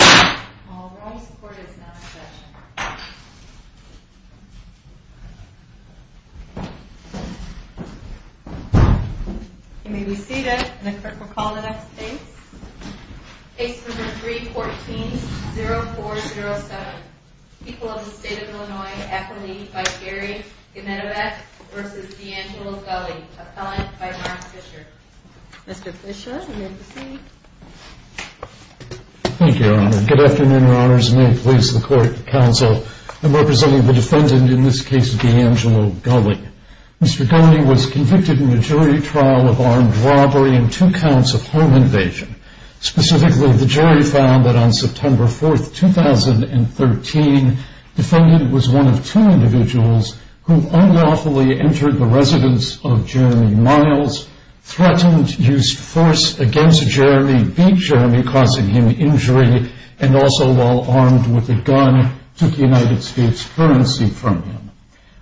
All room support is now in session. You may be seated. The clerk will call the next case. Case number 314-0407. People of the State of Illinois. Appellee by Gary Genetovac v. D'Angelo Gulley. Appellant by Mark Fisher. Mr. Fisher, you may proceed. Thank you, Your Honor. Good afternoon, Your Honors. May it please the court and counsel, I'm representing the defendant in this case, D'Angelo Gulley. Mr. Gulley was convicted in a jury trial of armed robbery and two counts of home invasion. Specifically, the jury found that on September 4, 2013, the defendant was one of two individuals who unlawfully entered the residence of Jeremy Miles, threatened, used force against Jeremy, beat Jeremy, causing him injury, and also, while armed with a gun, took United States currency from him.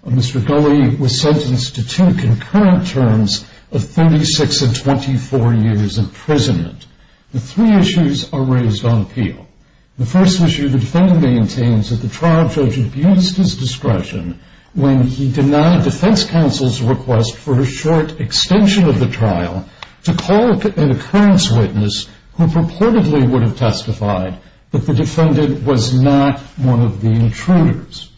Mr. Gulley was sentenced to two concurrent terms of 36 and 24 years imprisonment. The three issues are raised on appeal. The first issue, the defendant maintains that the trial judge abused his discretion when he denied defense counsel's request for a short extension of the trial to call an occurrence witness who purportedly would have testified that the defendant was not one of the intruders.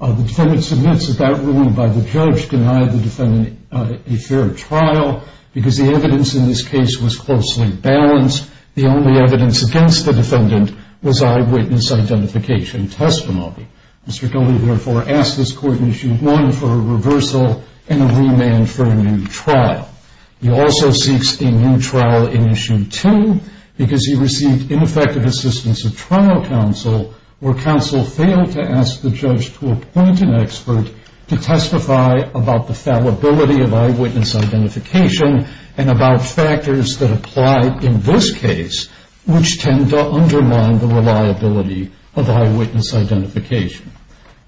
The defendant submits that that ruling by the judge denied the defendant a fair trial because the evidence in this case was closely balanced. The only evidence against the defendant was eyewitness identification testimony. Mr. Gulley, therefore, asks this court in issue one for a reversal and a remand for a new trial. He also seeks a new trial in issue two because he received ineffective assistance of trial counsel where counsel failed to ask the judge to appoint an expert to testify about the fallibility of eyewitness identification and about factors that apply in this case, which tend to undermine the reliability of eyewitness identification.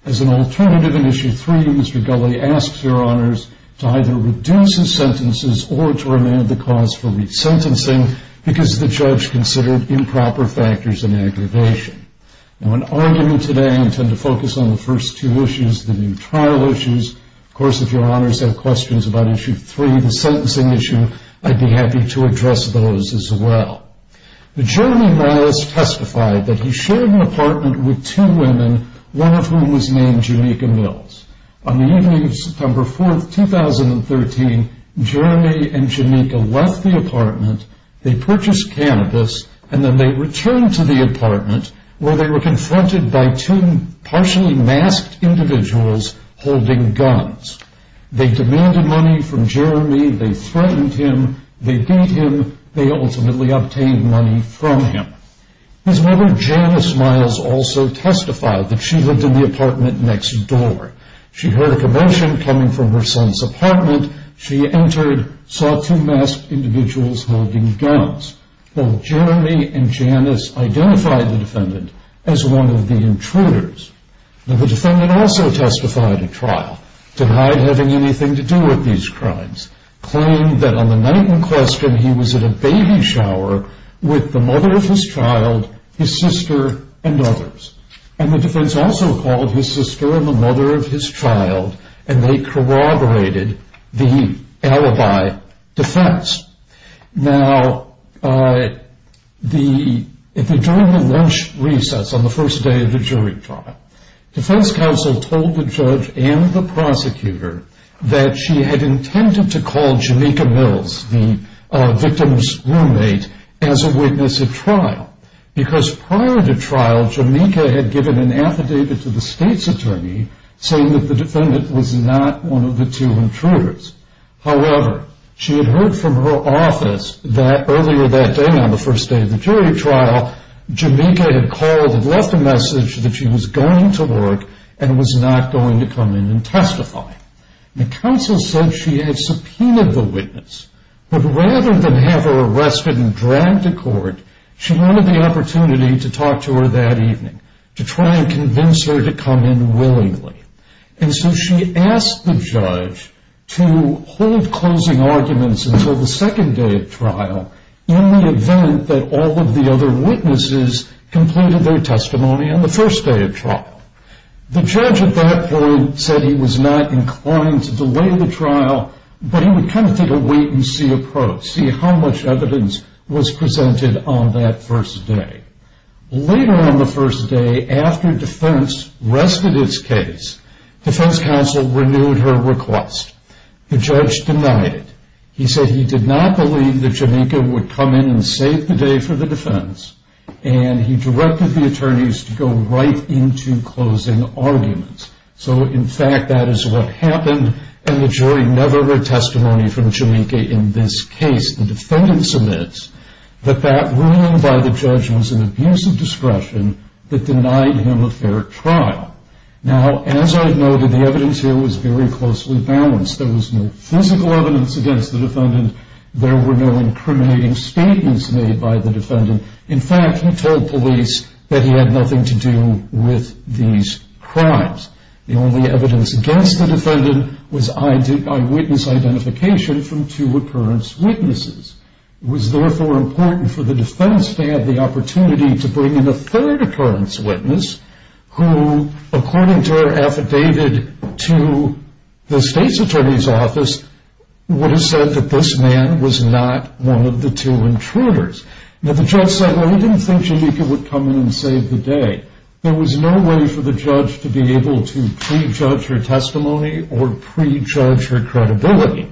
As an alternative in issue three, Mr. Gulley asks your honors to either reduce his sentences or to remand the cause for resentencing because the judge considered improper factors in aggravation. In argument today, I intend to focus on the first two issues, the new trial issues. Of course, if your honors have questions about issue three, the sentencing issue, I'd be happy to address those as well. Jeremy Miles testified that he shared an apartment with two women, one of whom was named Janika Mills. On the evening of September 4, 2013, Jeremy and Janika left the apartment, they purchased cannabis, and then they returned to the apartment where they were confronted by two partially masked individuals holding guns. They demanded money from Jeremy, they threatened him, they beat him, they ultimately obtained money from him. His mother Janice Miles also testified that she lived in the apartment next door. She heard a commotion coming from her son's apartment, she entered, saw two masked individuals holding guns. Jeremy and Janice identified the defendant as one of the intruders. The defendant also testified at trial, denied having anything to do with these crimes, claimed that on the night in question he was at a baby shower with the mother of his child, his sister, and others. The defense also called his sister and the mother of his child, and they corroborated the alibi defense. Now, during the lunch recess on the first day of the jury trial, defense counsel told the judge and the prosecutor that she had intended to call Janika Mills, the victim's roommate, as a witness at trial. Because prior to trial, Janika had given an affidavit to the state's attorney saying that the defendant was not one of the two intruders. However, she had heard from her office that earlier that day, on the first day of the jury trial, Janika had left a message that she was going to work and was not going to come in and testify. The counsel said she had subpoenaed the witness, but rather than have her arrested and dragged to court, she wanted the opportunity to talk to her that evening, to try and convince her to come in willingly. And so she asked the judge to hold closing arguments until the second day of trial, in the event that all of the other witnesses completed their testimony on the first day of trial. The judge at that point said he was not inclined to delay the trial, but he would kind of take a wait-and-see approach, see how much evidence was presented on that first day. Later on the first day, after defense rested its case, defense counsel renewed her request. The judge denied it. He said he did not believe that Janika would come in and save the day for the defense, and he directed the attorneys to go right into closing arguments. So, in fact, that is what happened, and the jury never read testimony from Janika in this case. The defendant submits that that ruling by the judge was an abuse of discretion that denied him a fair trial. Now, as I noted, the evidence here was very closely balanced. There was no physical evidence against the defendant. There were no incriminating statements made by the defendant. In fact, he told police that he had nothing to do with these crimes. The only evidence against the defendant was eyewitness identification from two occurrence witnesses. It was therefore important for the defense to have the opportunity to bring in a third occurrence witness who, according to her affidavit to the state's attorney's office, would have said that this man was not one of the two intruders. Now, the judge said, well, he didn't think Janika would come in and save the day. There was no way for the judge to be able to prejudge her testimony or prejudge her credibility.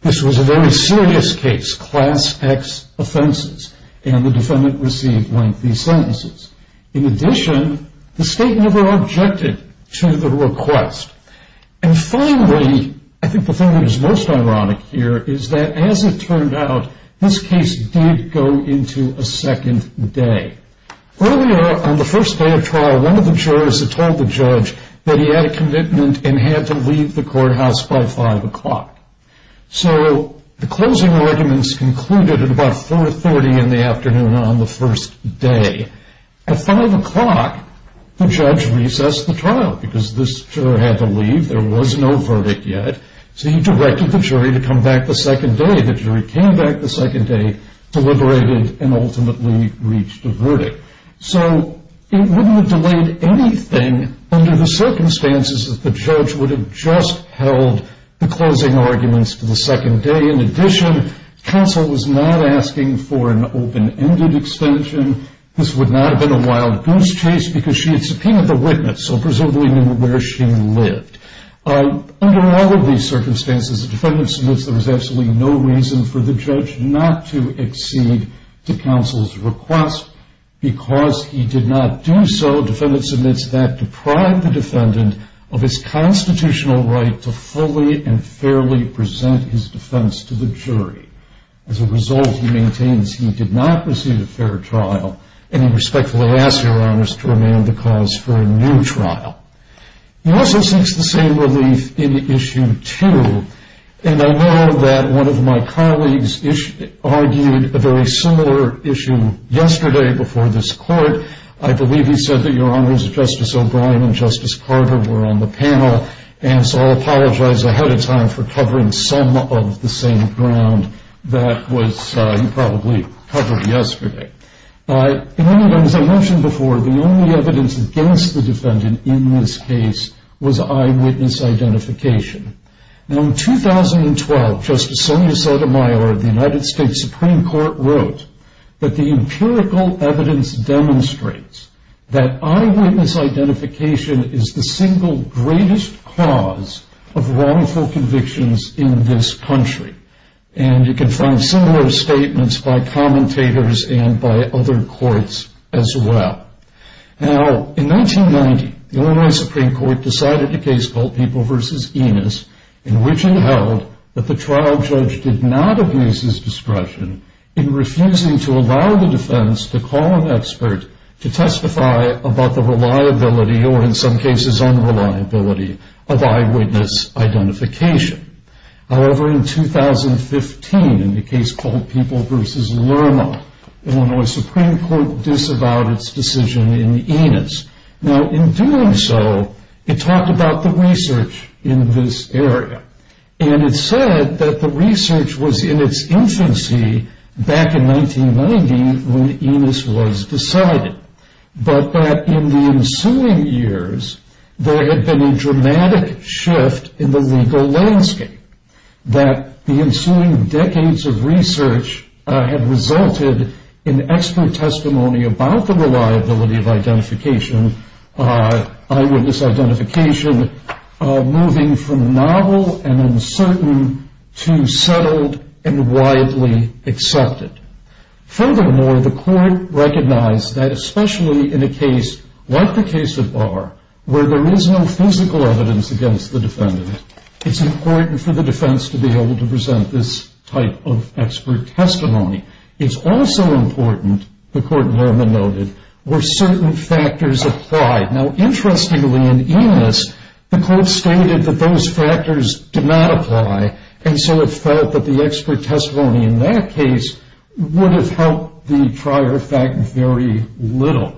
This was a very serious case, class X offenses, and the defendant received lengthy sentences. In addition, the state never objected to the request. And finally, I think the thing that is most ironic here is that, as it turned out, this case did go into a second day. Earlier, on the first day of trial, one of the jurors had told the judge that he had a commitment and had to leave the courthouse by 5 o'clock. So the closing arguments concluded at about 4.30 in the afternoon on the first day. At 5 o'clock, the judge recessed the trial because this juror had to leave. There was no verdict yet, so he directed the jury to come back the second day. The jury came back the second day, deliberated, and ultimately reached a verdict. So it wouldn't have delayed anything under the circumstances that the judge would have just held the closing arguments for the second day. In addition, counsel was not asking for an open-ended extension. This would not have been a wild goose chase because she had subpoenaed the witness, so presumably knew where she lived. Under all of these circumstances, the defendant submits there was absolutely no reason for the judge not to accede to counsel's request. Because he did not do so, defendant submits that deprived the defendant of his constitutional right to fully and fairly present his defense to the jury. As a result, he maintains he did not receive a fair trial, and he respectfully asks your honors to remand the cause for a new trial. He also seeks the same relief in Issue 2, and I know that one of my colleagues argued a very similar issue yesterday before this court. I believe he said that your honors, Justice O'Brien and Justice Carter were on the panel, and so I'll apologize ahead of time for covering some of the same ground that he probably covered yesterday. As I mentioned before, the only evidence against the defendant in this case was eyewitness identification. In 2012, Justice Sonia Sotomayor of the United States Supreme Court wrote that the empirical evidence demonstrates that eyewitness identification is the single greatest cause of wrongful convictions in this country. And you can find similar statements by commentators and by other courts as well. Now, in 1990, the Illinois Supreme Court decided a case called People v. Enos, in which it held that the trial judge did not abuse his discretion in refusing to allow the defense to call an expert to testify about the reliability, or in some cases unreliability, of eyewitness identification. However, in 2015, in the case called People v. Lermo, Illinois Supreme Court disavowed its decision in Enos. Now, in doing so, it talked about the research in this area. And it said that the research was in its infancy back in 1990 when Enos was decided. But that in the ensuing years, there had been a dramatic shift in the legal landscape. That the ensuing decades of research had resulted in expert testimony about the reliability of identification, eyewitness identification, moving from novel and uncertain to settled and widely accepted. Furthermore, the court recognized that especially in a case like the case of Barr, where there is no physical evidence against the defendant, it's important for the defense to be able to present this type of expert testimony. It's also important, the court Lerma noted, where certain factors applied. Now, interestingly, in Enos, the court stated that those factors did not apply. And so it felt that the expert testimony in that case would have helped the prior fact very little.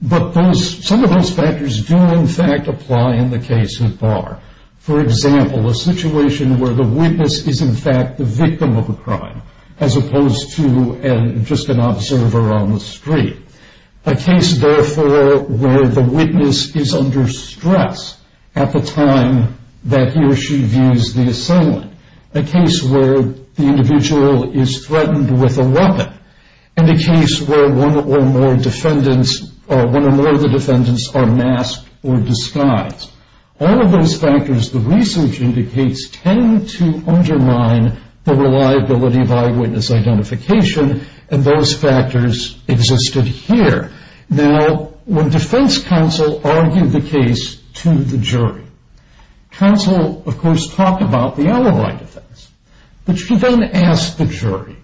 But some of those factors do, in fact, apply in the case of Barr. For example, a situation where the witness is, in fact, the victim of a crime, as opposed to just an observer on the street. A case, therefore, where the witness is under stress at the time that he or she views the assailant. A case where the individual is threatened with a weapon. And a case where one or more of the defendants are masked or disguised. All of those factors, the research indicates, tend to undermine the reliability of eyewitness identification. And those factors existed here. Now, when defense counsel argued the case to the jury, counsel, of course, talked about the other side of things. But she then asked the jury,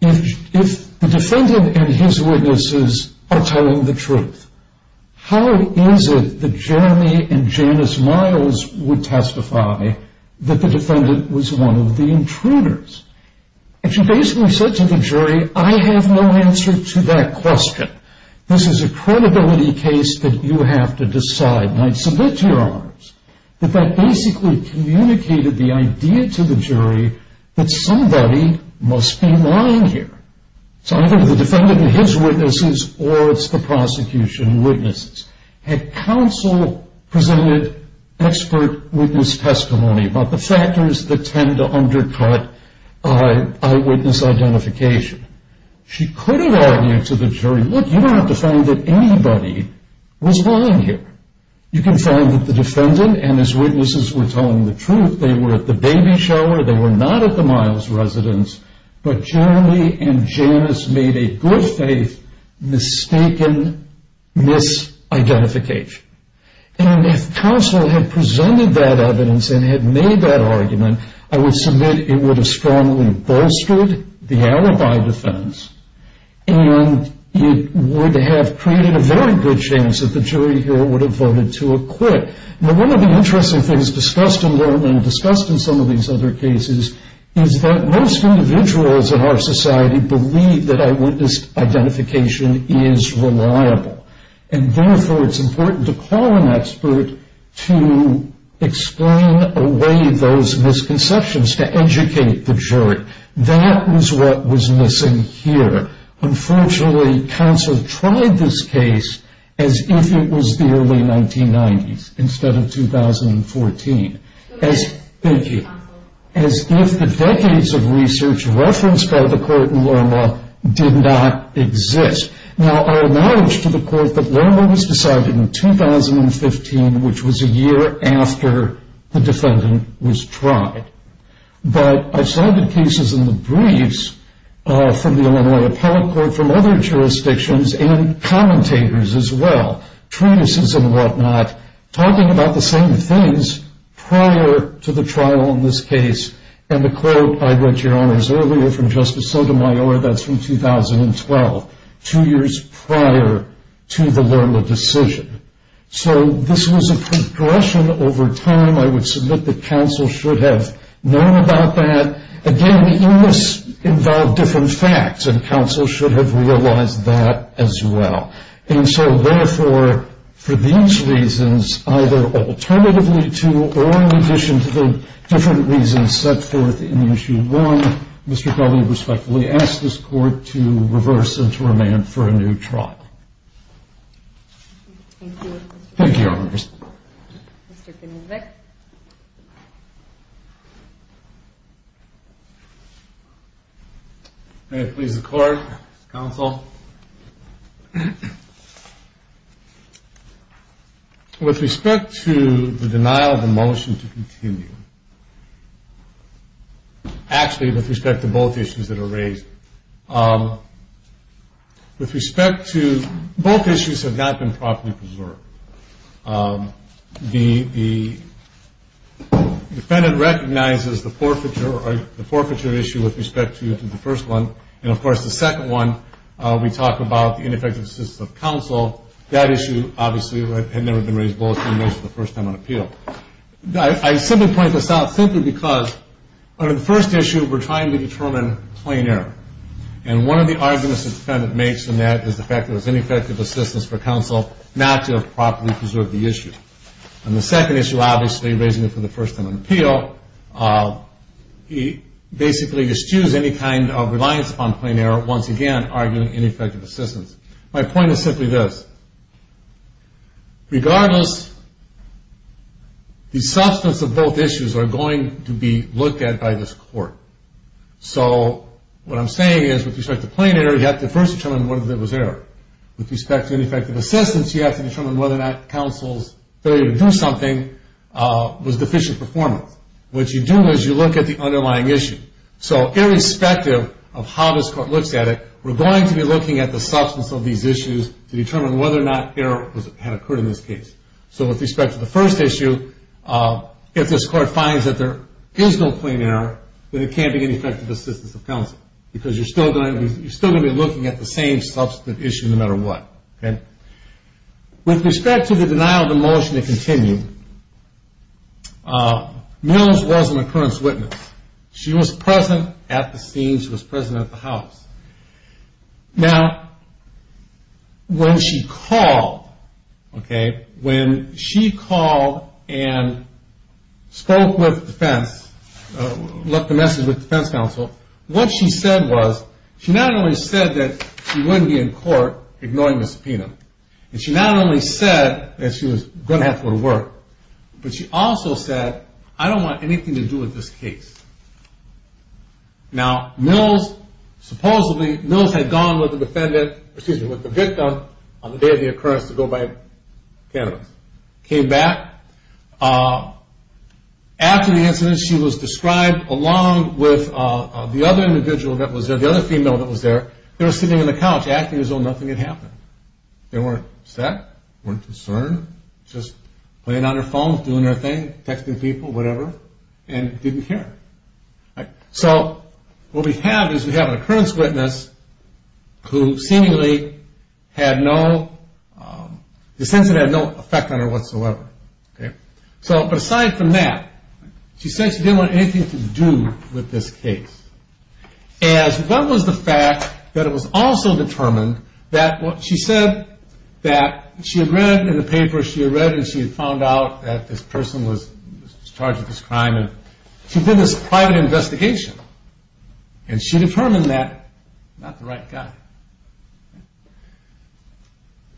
if the defendant and his witnesses are telling the truth, how is it that Jeremy and Janice Miles would testify that the defendant was one of the intruders? And she basically said to the jury, I have no answer to that question. This is a credibility case that you have to decide, and I submit to your honors, that that basically communicated the idea to the jury that somebody must be lying here. It's either the defendant and his witnesses, or it's the prosecution and witnesses. And counsel presented expert witness testimony about the factors that tend to undercut eyewitness identification. She could have argued to the jury, look, you don't have to find that anybody was lying here. You can find that the defendant and his witnesses were telling the truth. They were at the baby shower. They were not at the Miles residence. But Jeremy and Janice made a good-faith mistaken misidentification. And if counsel had presented that evidence and had made that argument, I would submit it would have strongly bolstered the alibi defense, and it would have created a very good chance that the jury here would have voted to acquit. Now, one of the interesting things discussed in Lerman and discussed in some of these other cases is that most individuals in our society believe that eyewitness identification is reliable. And, therefore, it's important to call an expert to explain away those misconceptions, to educate the jury. That was what was missing here. Unfortunately, counsel tried this case as if it was the early 1990s instead of 2014. Thank you. As if the decades of research referenced by the court in Lerma did not exist. Now, I acknowledge to the court that Lerma was decided in 2015, which was a year after the defendant was tried. But I've cited cases in the briefs from the Illinois Appellate Court, from other jurisdictions, and commentators as well, truances and whatnot, talking about the same things prior to the trial in this case. And the quote, I read, Your Honors, earlier from Justice Sotomayor, that's from 2012, two years prior to the Lerma decision. So this was a progression over time. I would submit that counsel should have known about that. Again, the evidence involved different facts, and counsel should have realized that as well. And so, therefore, for these reasons, either alternatively to or in addition to the different reasons set forth in Issue 1, Mr. Kelly respectfully asks this court to reverse and to remand for a new trial. Thank you. Thank you, Your Honors. Mr. Kinnevik. May it please the court, counsel. With respect to the denial of a motion to continue, actually with respect to both issues that are raised, with respect to both issues have not been properly preserved. The defendant recognizes the forfeiture issue with respect to the first one, and, of course, the second one, we talk about the ineffective assistance of counsel. That issue, obviously, had never been raised both in the first time on appeal. I simply point this out simply because under the first issue, we're trying to determine plain error. And one of the arguments the defendant makes in that is the fact that it was ineffective assistance for counsel not to have properly preserved the issue. And the second issue, obviously, raising it for the first time on appeal, he basically eschews any kind of reliance upon plain error, once again, arguing ineffective assistance. My point is simply this. Regardless, the substance of both issues are going to be looked at by this court. So what I'm saying is with respect to plain error, you have to first determine whether there was error. With respect to ineffective assistance, you have to determine whether or not counsel's failure to do something was deficient performance. What you do is you look at the underlying issue. So irrespective of how this court looks at it, we're going to be looking at the substance of these issues to determine whether or not error had occurred in this case. So with respect to the first issue, if this court finds that there is no plain error, then it can't be ineffective assistance of counsel because you're still going to be looking at the same substance issue no matter what. With respect to the denial of the motion to continue, Mills wasn't a current witness. She was present at the scene. She was present at the house. Now, when she called, okay, when she called and spoke with defense, left a message with defense counsel, what she said was she not only said that she wouldn't be in court ignoring the subpoena, and she not only said that she was going to have to go to work, but she also said, I don't want anything to do with this case. Now, Mills supposedly had gone with the victim on the day of the occurrence to go buy cannabis. Came back. After the incident, she was described along with the other individual that was there, the other female that was there. They were sitting on the couch acting as though nothing had happened. They weren't upset, weren't concerned, just playing on their phones, doing their thing, texting people, whatever, and didn't care. So what we have is we have an occurrence witness who seemingly had no, essentially had no effect on her whatsoever. But aside from that, she said she didn't want anything to do with this case. As well as the fact that it was also determined that what she said that she had read in the paper, she had read and she had found out that this person was charged with this crime, She did this private investigation, and she determined that he was not the right guy.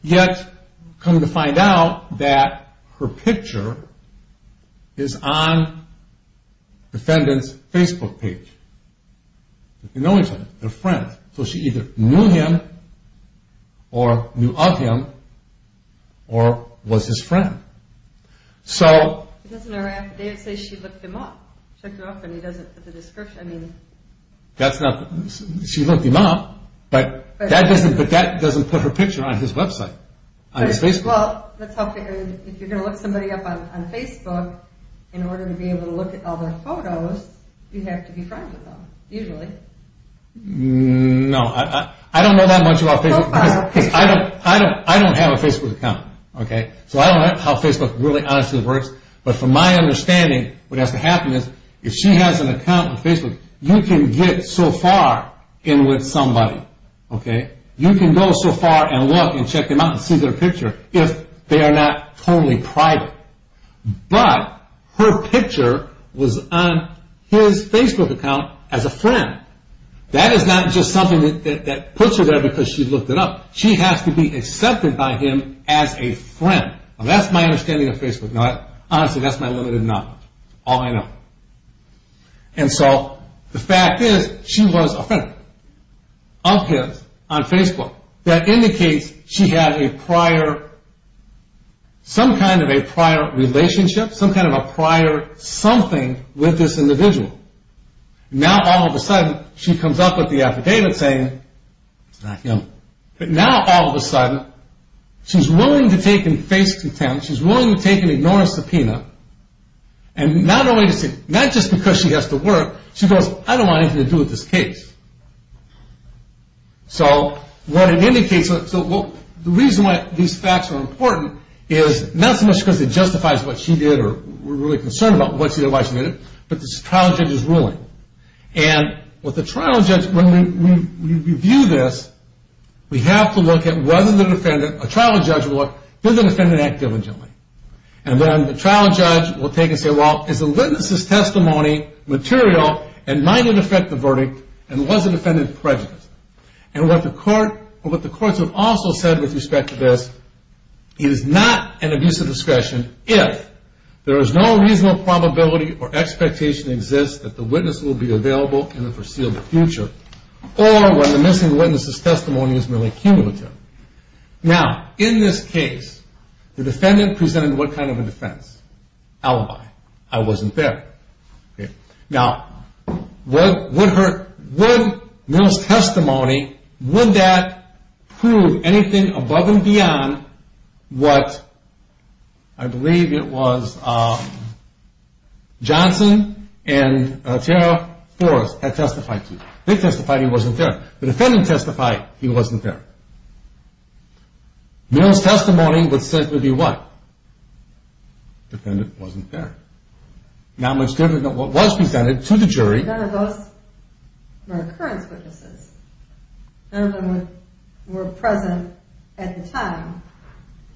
Yet, coming to find out that her picture is on the defendant's Facebook page. They know each other. They're friends. So she either knew him or knew of him or was his friend. Doesn't her affidavit say she looked him up? She looked him up, but that doesn't put her picture on his website, on his Facebook. Well, if you're going to look somebody up on Facebook, in order to be able to look at all their photos, you have to be friends with them, usually. No, I don't know that much about Facebook. I don't have a Facebook account. So I don't know how Facebook really, honestly works. But from my understanding, what has to happen is if she has an account on Facebook, you can get so far in with somebody. You can go so far and look and check them out and see their picture if they are not totally private. But her picture was on his Facebook account as a friend. That is not just something that puts her there because she looked it up. She has to be accepted by him as a friend. That's my understanding of Facebook. Honestly, that's my limited knowledge, all I know. And so the fact is she was a friend of his on Facebook. That indicates she had a prior, some kind of a prior relationship, some kind of a prior something with this individual. Now, all of a sudden, she comes up with the affidavit saying it's not him. But now, all of a sudden, she's willing to take and face contempt. She's willing to take and ignore a subpoena. And not just because she has to work, she goes, I don't want anything to do with this case. So the reason why these facts are important is not so much because it justifies what she did or we're really concerned about what she did or why she did it, but the trial judge's ruling. And with the trial judge, when we review this, we have to look at whether the defendant, a trial judge will look, did the defendant act diligently? And then the trial judge will take and say, well, is the witness's testimony material and might it affect the verdict, and was the defendant prejudiced? And what the courts have also said with respect to this, it is not an abuse of discretion if there is no reasonable probability or expectation exists that the witness will be available in the foreseeable future or when the missing witness's testimony is merely cumulative. Now, in this case, the defendant presented what kind of a defense? Alibi. I wasn't there. Now, would Mill's testimony, would that prove anything above and beyond what I believe it was Johnson and Tara Forrest had testified to? They testified he wasn't there. The defendant testified he wasn't there. Mill's testimony would be what? Defendant wasn't there. Not much different than what was presented to the jury. None of those were occurrence witnesses. None of them were present at the time.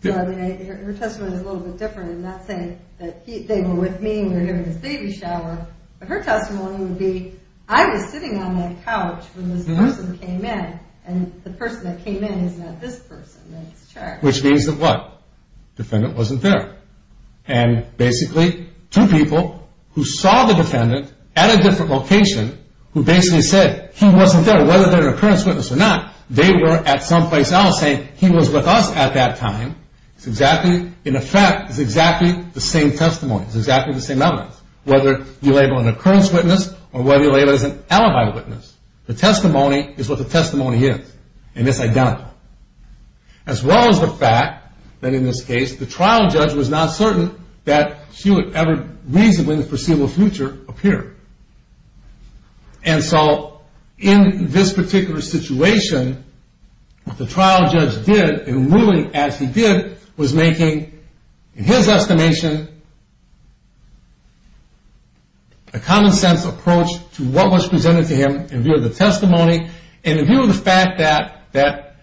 So, I mean, her testimony is a little bit different. I'm not saying that they were with me and we were giving this baby shower, but her testimony would be, I was sitting on that couch when this person came in, and the person that came in is not this person that's charged. Which means that what? Defendant wasn't there. And basically, two people who saw the defendant at a different location, who basically said he wasn't there, whether they're an occurrence witness or not, they were at some place else saying he was with us at that time. It's exactly, in effect, it's exactly the same testimony. It's exactly the same evidence. Whether you label it an occurrence witness or whether you label it as an alibi witness, the testimony is what the testimony is, and it's identical. As well as the fact that, in this case, the trial judge was not certain that she would ever reasonably in the foreseeable future appear. And so, in this particular situation, what the trial judge did, and really as he did, was making, in his estimation, a common sense approach to what was presented to him in view of the testimony and in view of the fact that,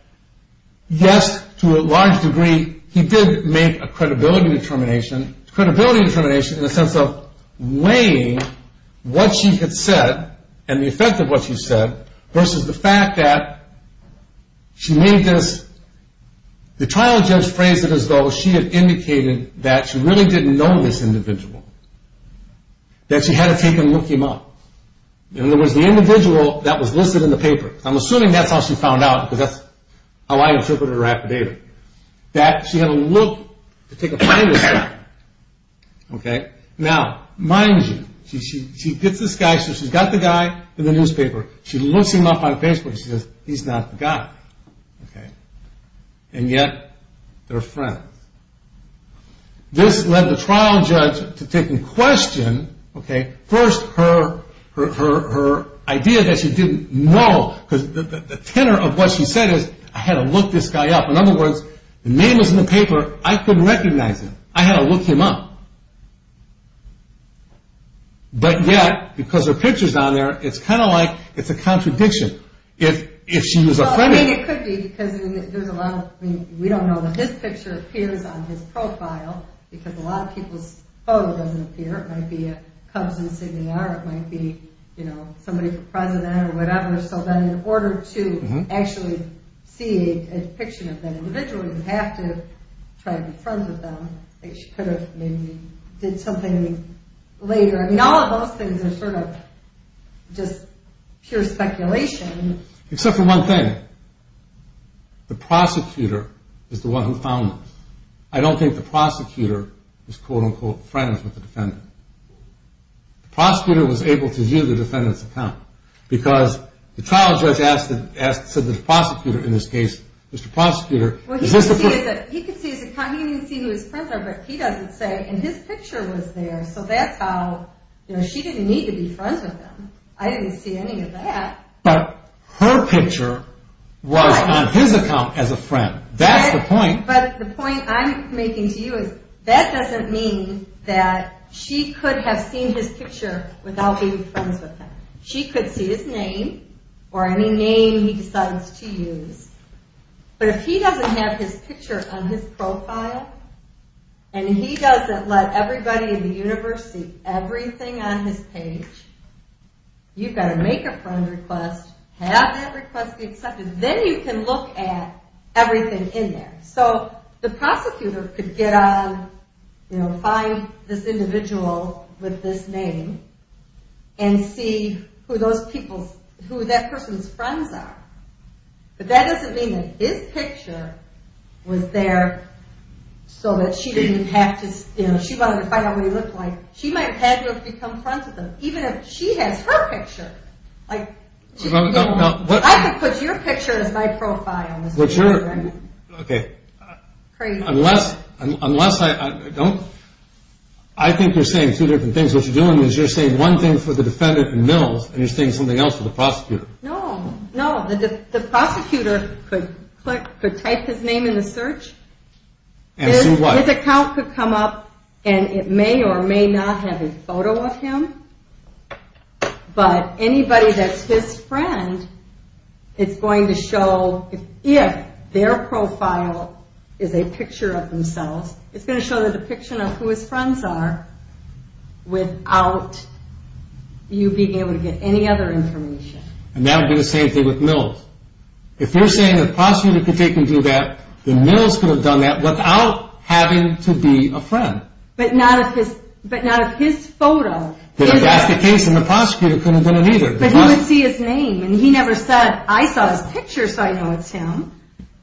yes, to a large degree, he did make a credibility determination, credibility determination in the sense of weighing what she had said and the effect of what she said versus the fact that she made this, the trial judge phrased it as though she had indicated that she really didn't know this individual. That she had to take a look him up. In other words, the individual that was listed in the paper. I'm assuming that's how she found out because that's how I interpreted her affidavit. That she had to look to take a finder's note. Now, mind you, she gets this guy, so she's got the guy in the newspaper. She looks him up on Facebook and she says, he's not the guy. And yet, they're friends. This led the trial judge to take in question, first, her idea that she didn't know. Because the tenor of what she said is, I had to look this guy up. In other words, the name was in the paper. I couldn't recognize him. I had to look him up. But yet, because her picture's on there, it's kind of like it's a contradiction. If she was a friend of him. Well, I mean, it could be because there's a lot of, I mean, we don't know that his picture appears on his profile because a lot of people's photo doesn't appear. It might be a Cubs insignia or it might be somebody for president or whatever. So then, in order to actually see a depiction of that individual, you have to try to be friends with them. She could have maybe did something later. I mean, all of those things are sort of just pure speculation. Except for one thing. The prosecutor is the one who found them. I don't think the prosecutor was, quote-unquote, friends with the defendant. The prosecutor was able to view the defendant's account. Because the trial judge asked the prosecutor in this case, Mr. Prosecutor, is this the proof? He can see his account. He can see who his friends are. But he doesn't say, and his picture was there. So that's how, you know, she didn't need to be friends with him. I didn't see any of that. But her picture was on his account as a friend. That's the point. But the point I'm making to you is, that doesn't mean that she could have seen his picture without being friends with him. She could see his name, or any name he decides to use. But if he doesn't have his picture on his profile, and he doesn't let everybody in the universe see everything on his page, you've got to make a friend request, have that request be accepted. Then you can look at everything in there. So the prosecutor could get on, you know, find this individual with this name, and see who that person's friends are. But that doesn't mean that his picture was there so that she didn't have to, you know, she wanted to find out what he looked like. She might have had to have become friends with him. Even if she has her picture. I could put your picture as my profile. Okay. Unless I don't. I think you're saying two different things. What you're doing is you're saying one thing for the defendant and Mills, and you're saying something else for the prosecutor. No, no. The prosecutor could type his name in the search. And see what? His account could come up, and it may or may not have a photo of him. But anybody that's his friend is going to show, if their profile is a picture of themselves, it's going to show the depiction of who his friends are without you being able to get any other information. And that would be the same thing with Mills. If you're saying the prosecutor could take and do that, then Mills could have done that without having to be a friend. But not of his photo. That's the case, and the prosecutor couldn't have done it either. But he would see his name, and he never said, I saw his picture, so I know it's him.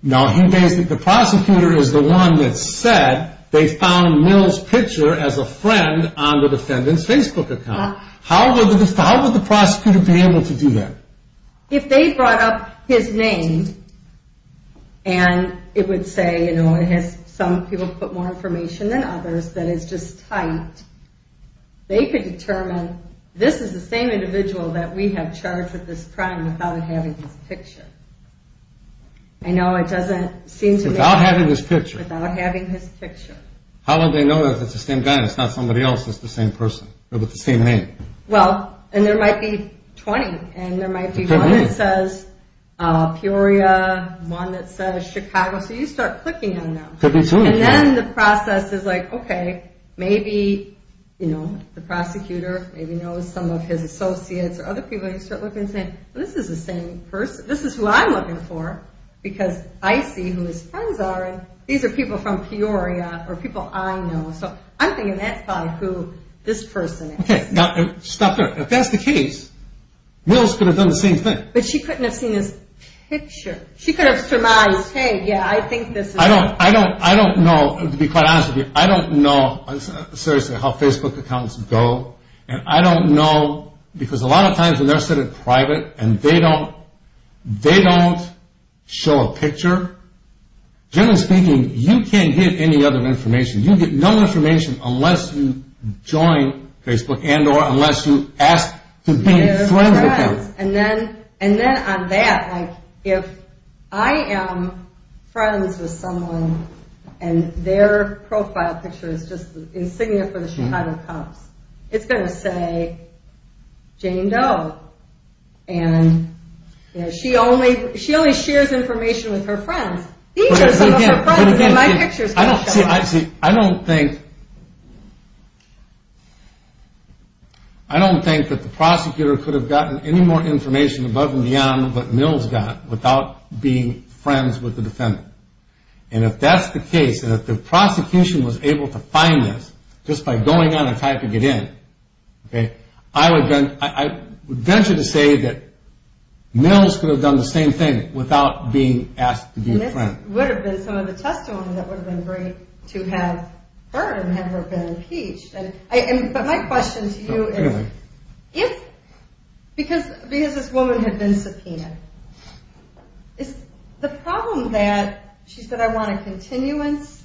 No, he thinks that the prosecutor is the one that said they found Mills' picture as a friend on the defendant's Facebook account. How would the prosecutor be able to do that? If they brought up his name, and it would say, you know, it has some people put more information than others, that is just tight, they could determine, this is the same individual that we have charged with this crime without having his picture. I know it doesn't seem to make sense. Without having his picture? Without having his picture. How would they know if it's the same guy, and it's not somebody else that's the same person, or with the same name? Well, and there might be 20, and there might be one that says Peoria, one that says Chicago, so you start clicking on them. And then the process is like, okay, maybe the prosecutor knows some of his associates, or other people, and you start looking and saying, this is the same person, this is who I'm looking for, because I see who his friends are, and these are people from Peoria, or people I know, so I'm thinking that's probably who this person is. Okay, now stop there. If that's the case, Mills could have done the same thing. But she couldn't have seen his picture. She could have surmised, hey, yeah, I think this is him. I don't know, to be quite honest with you, I don't know, seriously, how Facebook accounts go, and I don't know, because a lot of times, when they're sitting private, and they don't show a picture, generally speaking, you can't get any other information. You get no information unless you join Facebook, and or unless you ask to be friends with them. And then on that, if I am friends with someone, and their profile picture is just insignia for the Chicago Cubs, it's going to say Jane Doe, and she only shares information with her friends. These are some of her friends, and my picture's going to show them. See, I don't think, I don't think that the prosecutor could have gotten any more information above and beyond what Mills got without being friends with the defendant. And if that's the case, and if the prosecution was able to find this, just by going on and typing it in, I would venture to say that Mills could have done the same thing without being asked to be a friend. And this would have been some of the testimony that would have been great to have heard, and had her been impeached. But my question to you is, because this woman had been subpoenaed, the problem that, she said, I want a continuance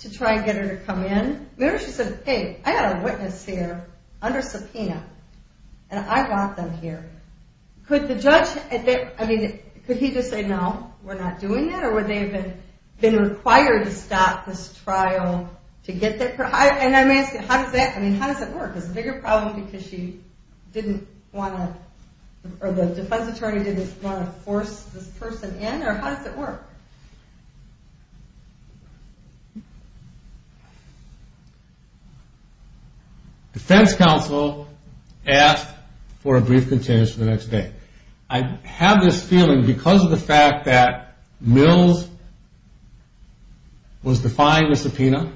to try and get her to come in. Maybe she said, hey, I got a witness here under subpoena, and I want them here. Could the judge, I mean, could he just say, no, we're not doing that, or would they have been required to stop this trial to get that? And I'm asking, how does that, I mean, how does that work? Is it a bigger problem because she didn't want to, or the defense attorney didn't want to force this person in, or how does it work? Defense counsel asked for a brief continuance for the next day. I have this feeling, because of the fact that Mills was defying the subpoena,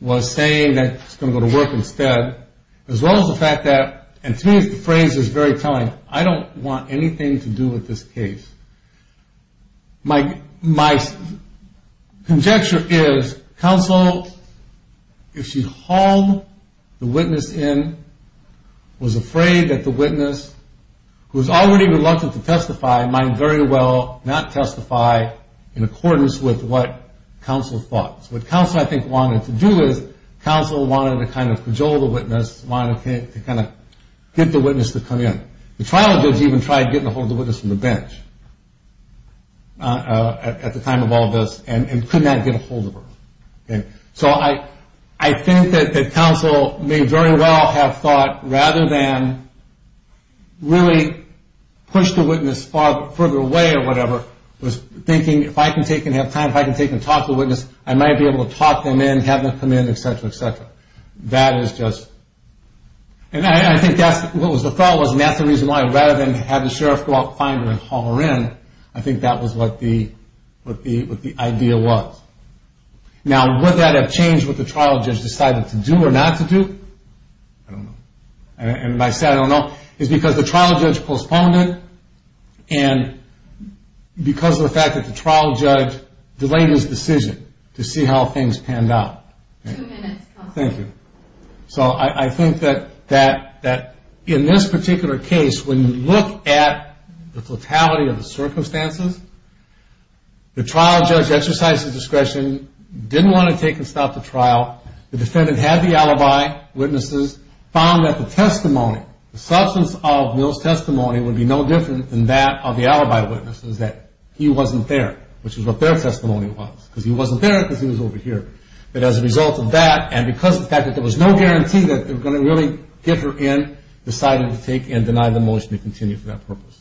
was saying that she was going to go to work instead, as well as the fact that, and to me the phrase is very telling, I don't want anything to do with this case. My conjecture is, counsel, if she hauled the witness in, was afraid that the witness, who was already reluctant to testify, might very well not testify in accordance with what counsel thought. So what counsel, I think, wanted to do is, counsel wanted to kind of cajole the witness, wanted to kind of get the witness to come in. The trial judge even tried getting a hold of the witness from the bench at the time of all this, and could not get a hold of her. So I think that counsel may very well have thought, rather than really push the witness further away or whatever, was thinking, if I can take and have time, if I can take and talk to the witness, I might be able to talk them in, and have them come in, et cetera, et cetera. That is just... And I think that's what the thought was, and that's the reason why, rather than have the sheriff go out and find her and haul her in, I think that was what the idea was. Now, would that have changed what the trial judge decided to do or not to do? I don't know. And I said I don't know, is because the trial judge postponed it, and because of the fact that the trial judge delayed his decision to see how things panned out. Two minutes, counsel. Thank you. So I think that in this particular case, when you look at the totality of the circumstances, the trial judge exercised his discretion, didn't want to take and stop the trial, the defendant had the alibi, witnesses found that the testimony, the substance of Mill's testimony would be no different than that of the alibi witnesses, that he wasn't there, which is what their testimony was, because he wasn't there because he was over here. But as a result of that, and because of the fact that there was no guarantee that they were going to really get her in, decided to take and deny the motion to continue for that purpose.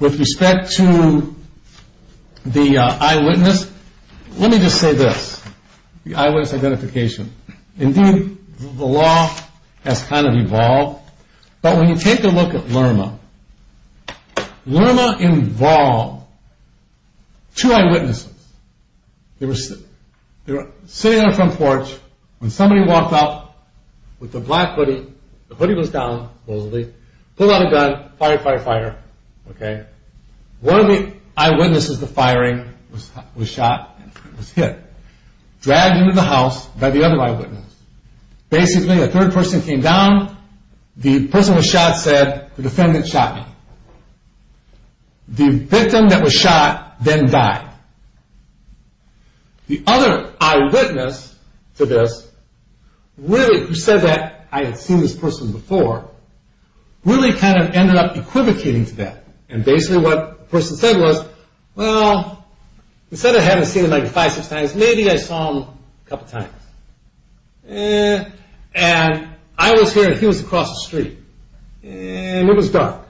With respect to the eyewitness, let me just say this, the eyewitness identification. Indeed, the law has kind of evolved, but when you take a look at Lerma, Lerma involved two eyewitnesses. They were sitting on a front porch when somebody walked up with a black hoodie, the hoodie was down supposedly, pulled out a gun, fire, fire, fire, okay? One of the eyewitnesses to firing was shot, was hit, dragged into the house by the other eyewitness. Basically, a third person came down, the person who was shot said, the defendant shot me. The victim that was shot then died. The other eyewitness to this, really who said that I had seen this person before, really kind of ended up equivocating to that. And basically what the person said was, well, instead of having seen him like five, six times, maybe I saw him a couple times. And I was here and he was across the street. And it was dark.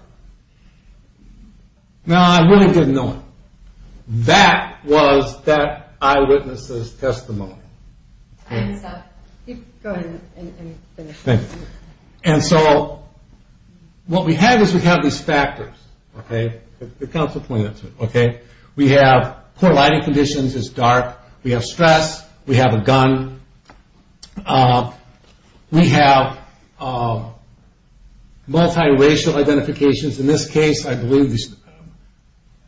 Now, I really didn't know him. That was that eyewitness's testimony. And so, what we have is we have these factors, okay? The counsel pointed that to me, okay? We have poor lighting conditions, it's dark. We have stress. We have a gun. We have multiracial identifications. In this case, I believe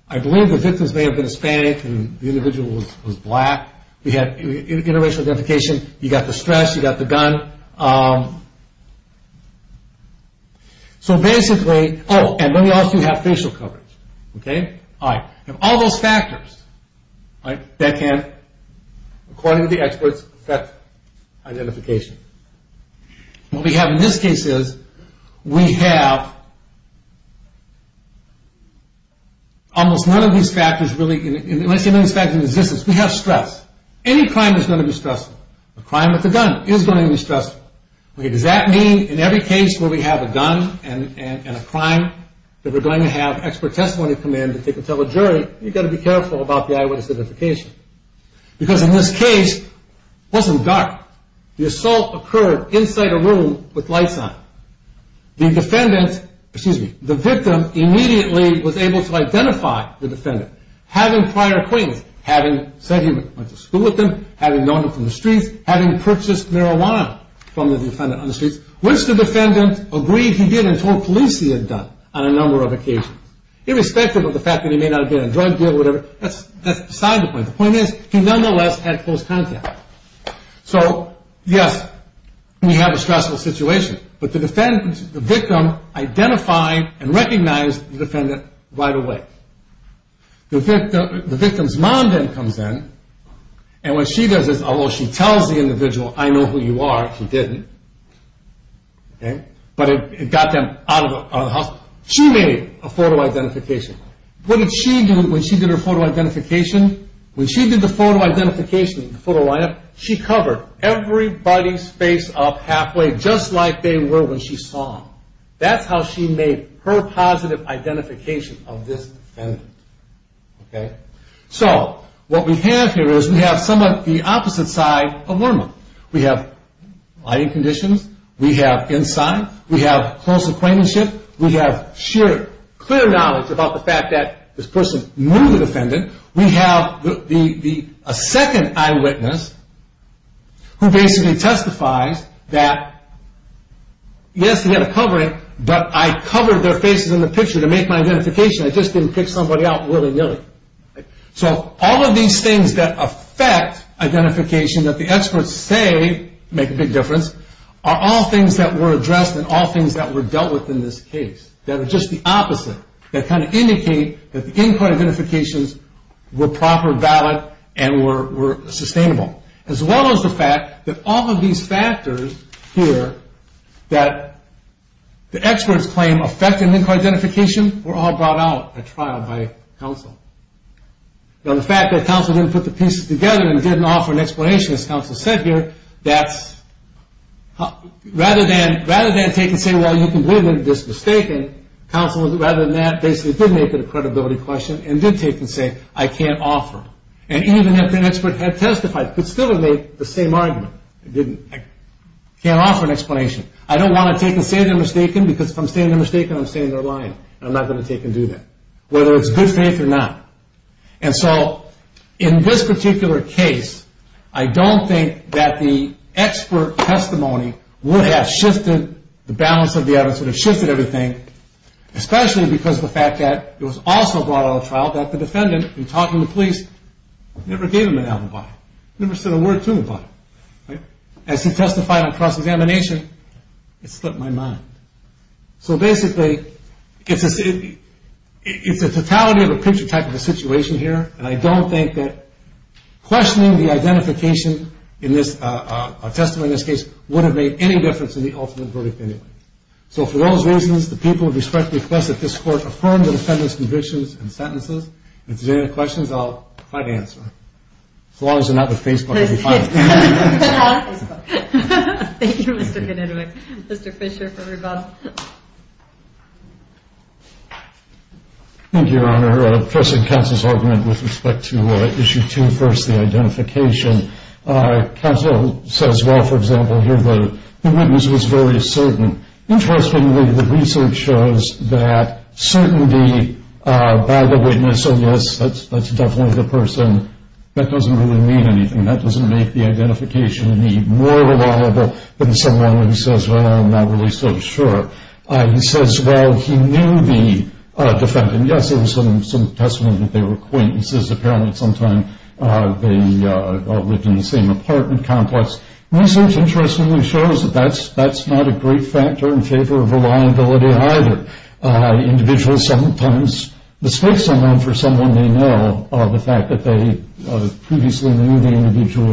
the victims may have been Hispanic and the individual was black. We have interracial identification. You got the stress, you got the gun. So basically, oh, and then we also have facial coverage, okay? All right. We have all those factors, right? And on the other hand, according to the experts, that's identification. What we have in this case is we have almost none of these factors really, unless none of these factors exist, we have stress. Any crime is going to be stressful. A crime with a gun is going to be stressful. Okay, does that mean in every case where we have a gun and a crime that we're going to have expert testimony come in that they can tell a jury, you got to be careful about the eyewitness identification. Because in this case, it wasn't dark. The assault occurred inside a room with lights on. The defendant, excuse me, the victim immediately was able to identify the defendant. Having prior acquaintance, having said he went to school with them, having known him from the streets, having purchased marijuana from the defendant on the streets, which the defendant agreed he did and told police he had done on a number of occasions, irrespective of the fact that he may not have been in a drug deal or whatever, that's beside the point. The point is, he nonetheless had close contact. So, yes, we have a stressful situation. But the victim identified and recognized the defendant right away. The victim's mom then comes in and what she does is, although she tells the individual, I know who you are, he didn't. But it got them out of the house. So, she made a photo identification. What did she do when she did her photo identification? When she did the photo identification, the photo lineup, she covered everybody's face up halfway just like they were when she saw them. That's how she made her positive identification of this defendant. Okay? So, what we have here is, we have somewhat the opposite side of Lerman. We have lighting conditions, we have inside, we have close acquaintanceship, we have sheer clear knowledge about the fact that this person knew the defendant. We have a second eyewitness who basically testifies that, yes, he had a covering, but I covered their faces in the picture to make my identification. I just didn't pick somebody out willy-nilly. So, all of these things that affect identification that the experts say make a big difference are all things that were addressed and all things that were dealt with in this case that are just the opposite that kind of indicate that the in-court identifications were proper, valid, and were sustainable. As well as the fact that all of these factors here that the experts claim affect an in-court identification were all brought out at trial by counsel. Now, the fact that counsel didn't put the pieces together and didn't offer an explanation, as counsel said here, rather than take and say, well, you can believe that this is mistaken, counsel, rather than that, basically did make it a credibility question and did take and say, I can't offer. And even if an expert had testified, could still have made the same argument. I can't offer an explanation. I don't want to take and say they're mistaken because if I'm saying they're mistaken, I'm saying they're lying and I'm not going to take and do that, whether it's good faith or not. And so, in this particular case, I don't think that the expert testimony would have shifted the balance of the evidence, would have shifted everything, especially because of the fact that it was also brought out at trial that the defendant, in talking to the police, never gave him an alibi, never said a word to him about it. As he testified on cross-examination, it slipped my mind. So basically, it's a totality of a picture type of a situation here and I don't think that questioning the identification in this testimony, in this case, would have made any difference in the ultimate verdict anyway. So for those reasons, the people of respect request that this court affirm the defendant's convictions and sentences. And if there's any questions, I'll try to answer. As long as they're not with Facebook, I'll be fine. Thank you, Mr. Hanenwick. Mr. Fischer, for rebuttal. Thank you, Your Honor. Pressing counsel's argument with respect to Issue 2, first, the identification. Counsel says, well, for example, here the witness was very certain. Interestingly, the research shows that certainty by the witness, oh, yes, that's definitely the person, that doesn't really mean anything. That doesn't make the identification any more reliable than someone who says, well, I'm not really so sure. He says, well, he knew the defendant. And yes, there was some testimony that they were acquaintances. Apparently at some time they lived in the same apartment complex. Research interestingly shows that that's not a great factor in favor of reliability either. Individuals sometimes mistake someone for someone they know. The fact that they previously knew the individual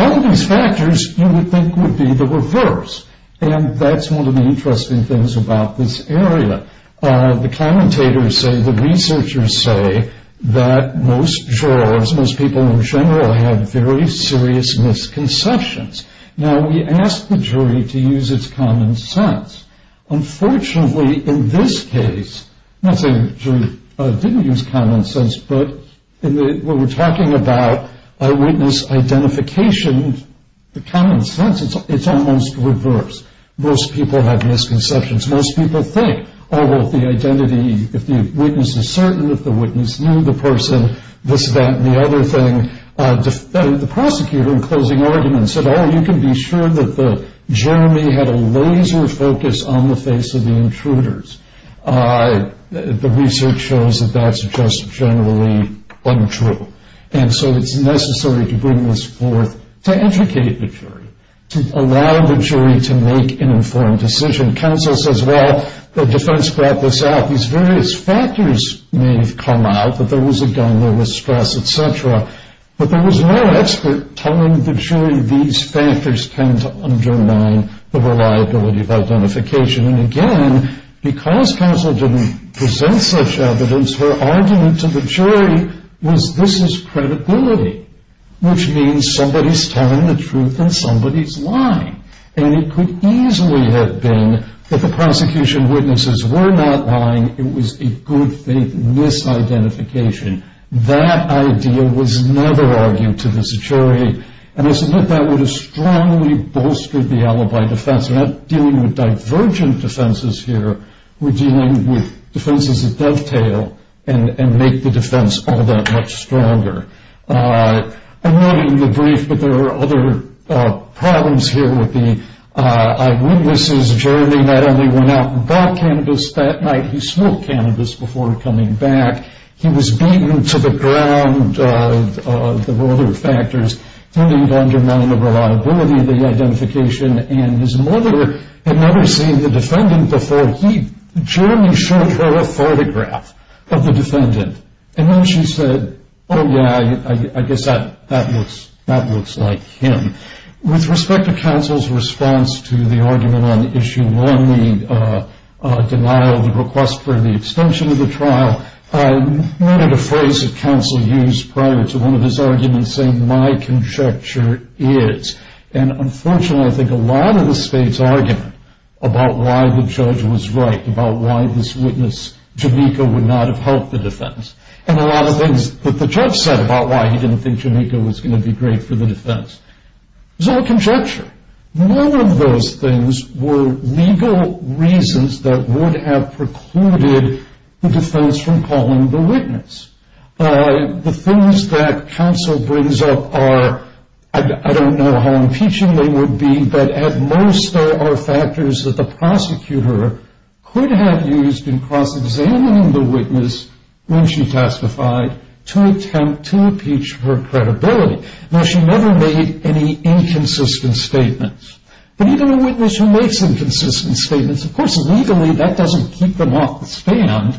All of these factors, you would think, would be the reverse. And that's one of the interesting things about this area. The commentators say, the researchers say, that most jurors, most people in general, have very serious misconceptions. Now, we ask the jury to use its common sense. Unfortunately, in this case, I'm not saying the jury didn't use common sense, but when we're talking about eyewitness identification, the common sense, it's almost reverse. Most people have misconceptions. Most people think, oh, well, the identity, if the witness is certain that the witness knew the person, this, that, and the other thing. The prosecutor, in closing arguments, said, oh, you can be sure that Jeremy had a laser focus on the face of the intruders. The research shows that that's just generally untrue. And so it's necessary to bring this forth to educate the jury, to allow the jury to make an informed decision. Counsel says, well, the defense brought this out. These various factors may have come out, that there was a gun, there was stress, et cetera. But there was no expert telling the jury these factors tend to undermine the reliability of identification. And again, because counsel didn't present such evidence, her argument to the jury was this is credibility, which means somebody's telling the truth and somebody's lying. And it could easily have been that the prosecution witnesses were not lying, it was a good faith misidentification. That idea was never argued to this jury. And I submit that would have strongly bolstered the alibi defense. We're not dealing with divergent defenses here. We're dealing with defenses that dovetail and make the defense all that much stronger. I'm leaving you brief, but there are other problems here with the eyewitnesses. Jeremy not only went out and bought cannabis that night, he smoked cannabis before coming back. He was beaten to the ground. There were other factors tending to undermine the reliability of the identification. And his mother had never seen the defendant before. So he generally showed her a photograph of the defendant. And then she said, oh yeah, I guess that looks like him. With respect to counsel's response to the argument on issue one, the denial of the request for the extension of the trial, I noted a phrase that counsel used prior to one of his arguments saying my conjecture is. And unfortunately, I think a lot of the state's argument about why the judge was right, about why this witness, Jamaica, would not have helped the defense. And a lot of things that the judge said about why he didn't think Jamaica was going to be great for the defense. It was all conjecture. None of those things were legal reasons that would have precluded the defense from calling the witness. The things that counsel brings up are, I don't know how impeaching they would be, but at most there are factors that the prosecutor could have used in cross-examining the witness when she testified to attempt to impeach her credibility. Now she never made any inconsistent statements. But even a witness who makes inconsistent statements, of course legally that doesn't keep them off the stand.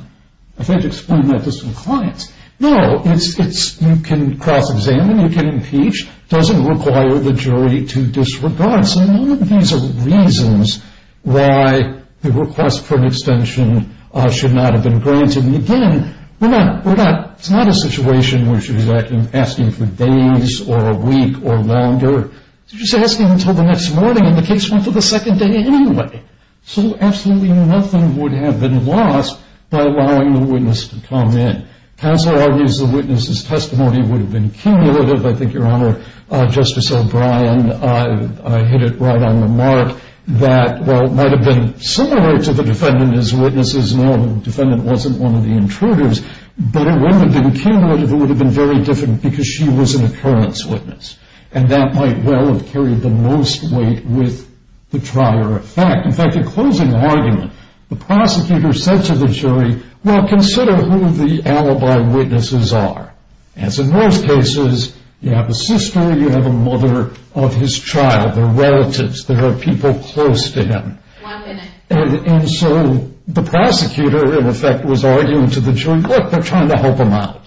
I tried to explain that to some clients. No, you can cross-examine, you can impeach, doesn't require the jury to disregard. So none of these are reasons why the request for an extension should not have been granted. And again, it's not a situation where she was asking for days or a week or longer. She was asking until the next morning and the case went to the second day anyway. So absolutely nothing would have been lost by allowing the witness to come in. Counsel argues the witness's testimony would have been cumulative. I think, Your Honor, Justice O'Brien hit it right on the mark that while it might have been similar to the defendant and his witnesses, no, the defendant wasn't one of the intruders, but it wouldn't have been cumulative, it would have been very different because she was an occurrence witness. And that might well have carried the most weight with the trier effect. In fact, the closing argument, the prosecutor said to the jury, well, consider who the alibi witnesses are. As in most cases, you have a sister, you have a mother of his child, they're relatives, there are people close to him. And so the prosecutor, in effect, was arguing to the jury, look, they're trying to help him out.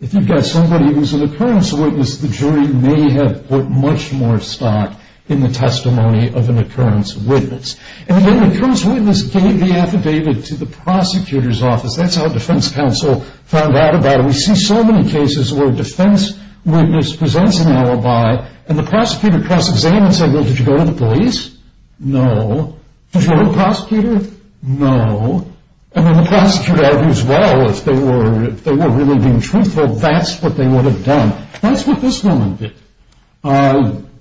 If you've got somebody who's an occurrence witness, the jury may have put much more stock in the testimony of an occurrence witness. And then the occurrence witness gave the affidavit to the prosecutor's office. That's how defense counsel found out about it. And we see so many cases where a defense witness presents an alibi and the prosecutor cross-examines and says, well, did you go to the police? No. Did you go to the prosecutor? No. And then the prosecutor argues, well, if they were really being truthful, that's what they would have done. That's what this woman did.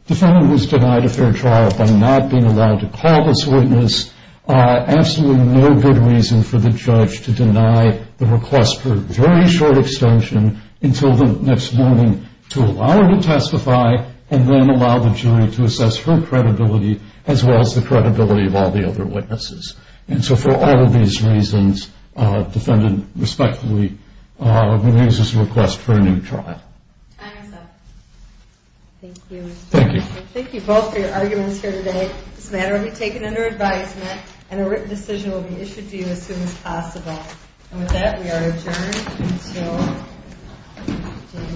Defendant was denied a fair trial by not being allowed to call this witness. Absolutely no good reason for the judge to deny the request for a very short extension until the next morning to allow her to testify and then allow the jury to assess her credibility as well as the credibility of all the other witnesses. And so for all of these reasons, defendant respectfully removes this request for a new trial. Time is up. Thank you. Thank you. Thank you both for your arguments here today. This matter will be taken under advisement and a written decision will be issued to you as soon as possible. And with that, we are adjourned until January.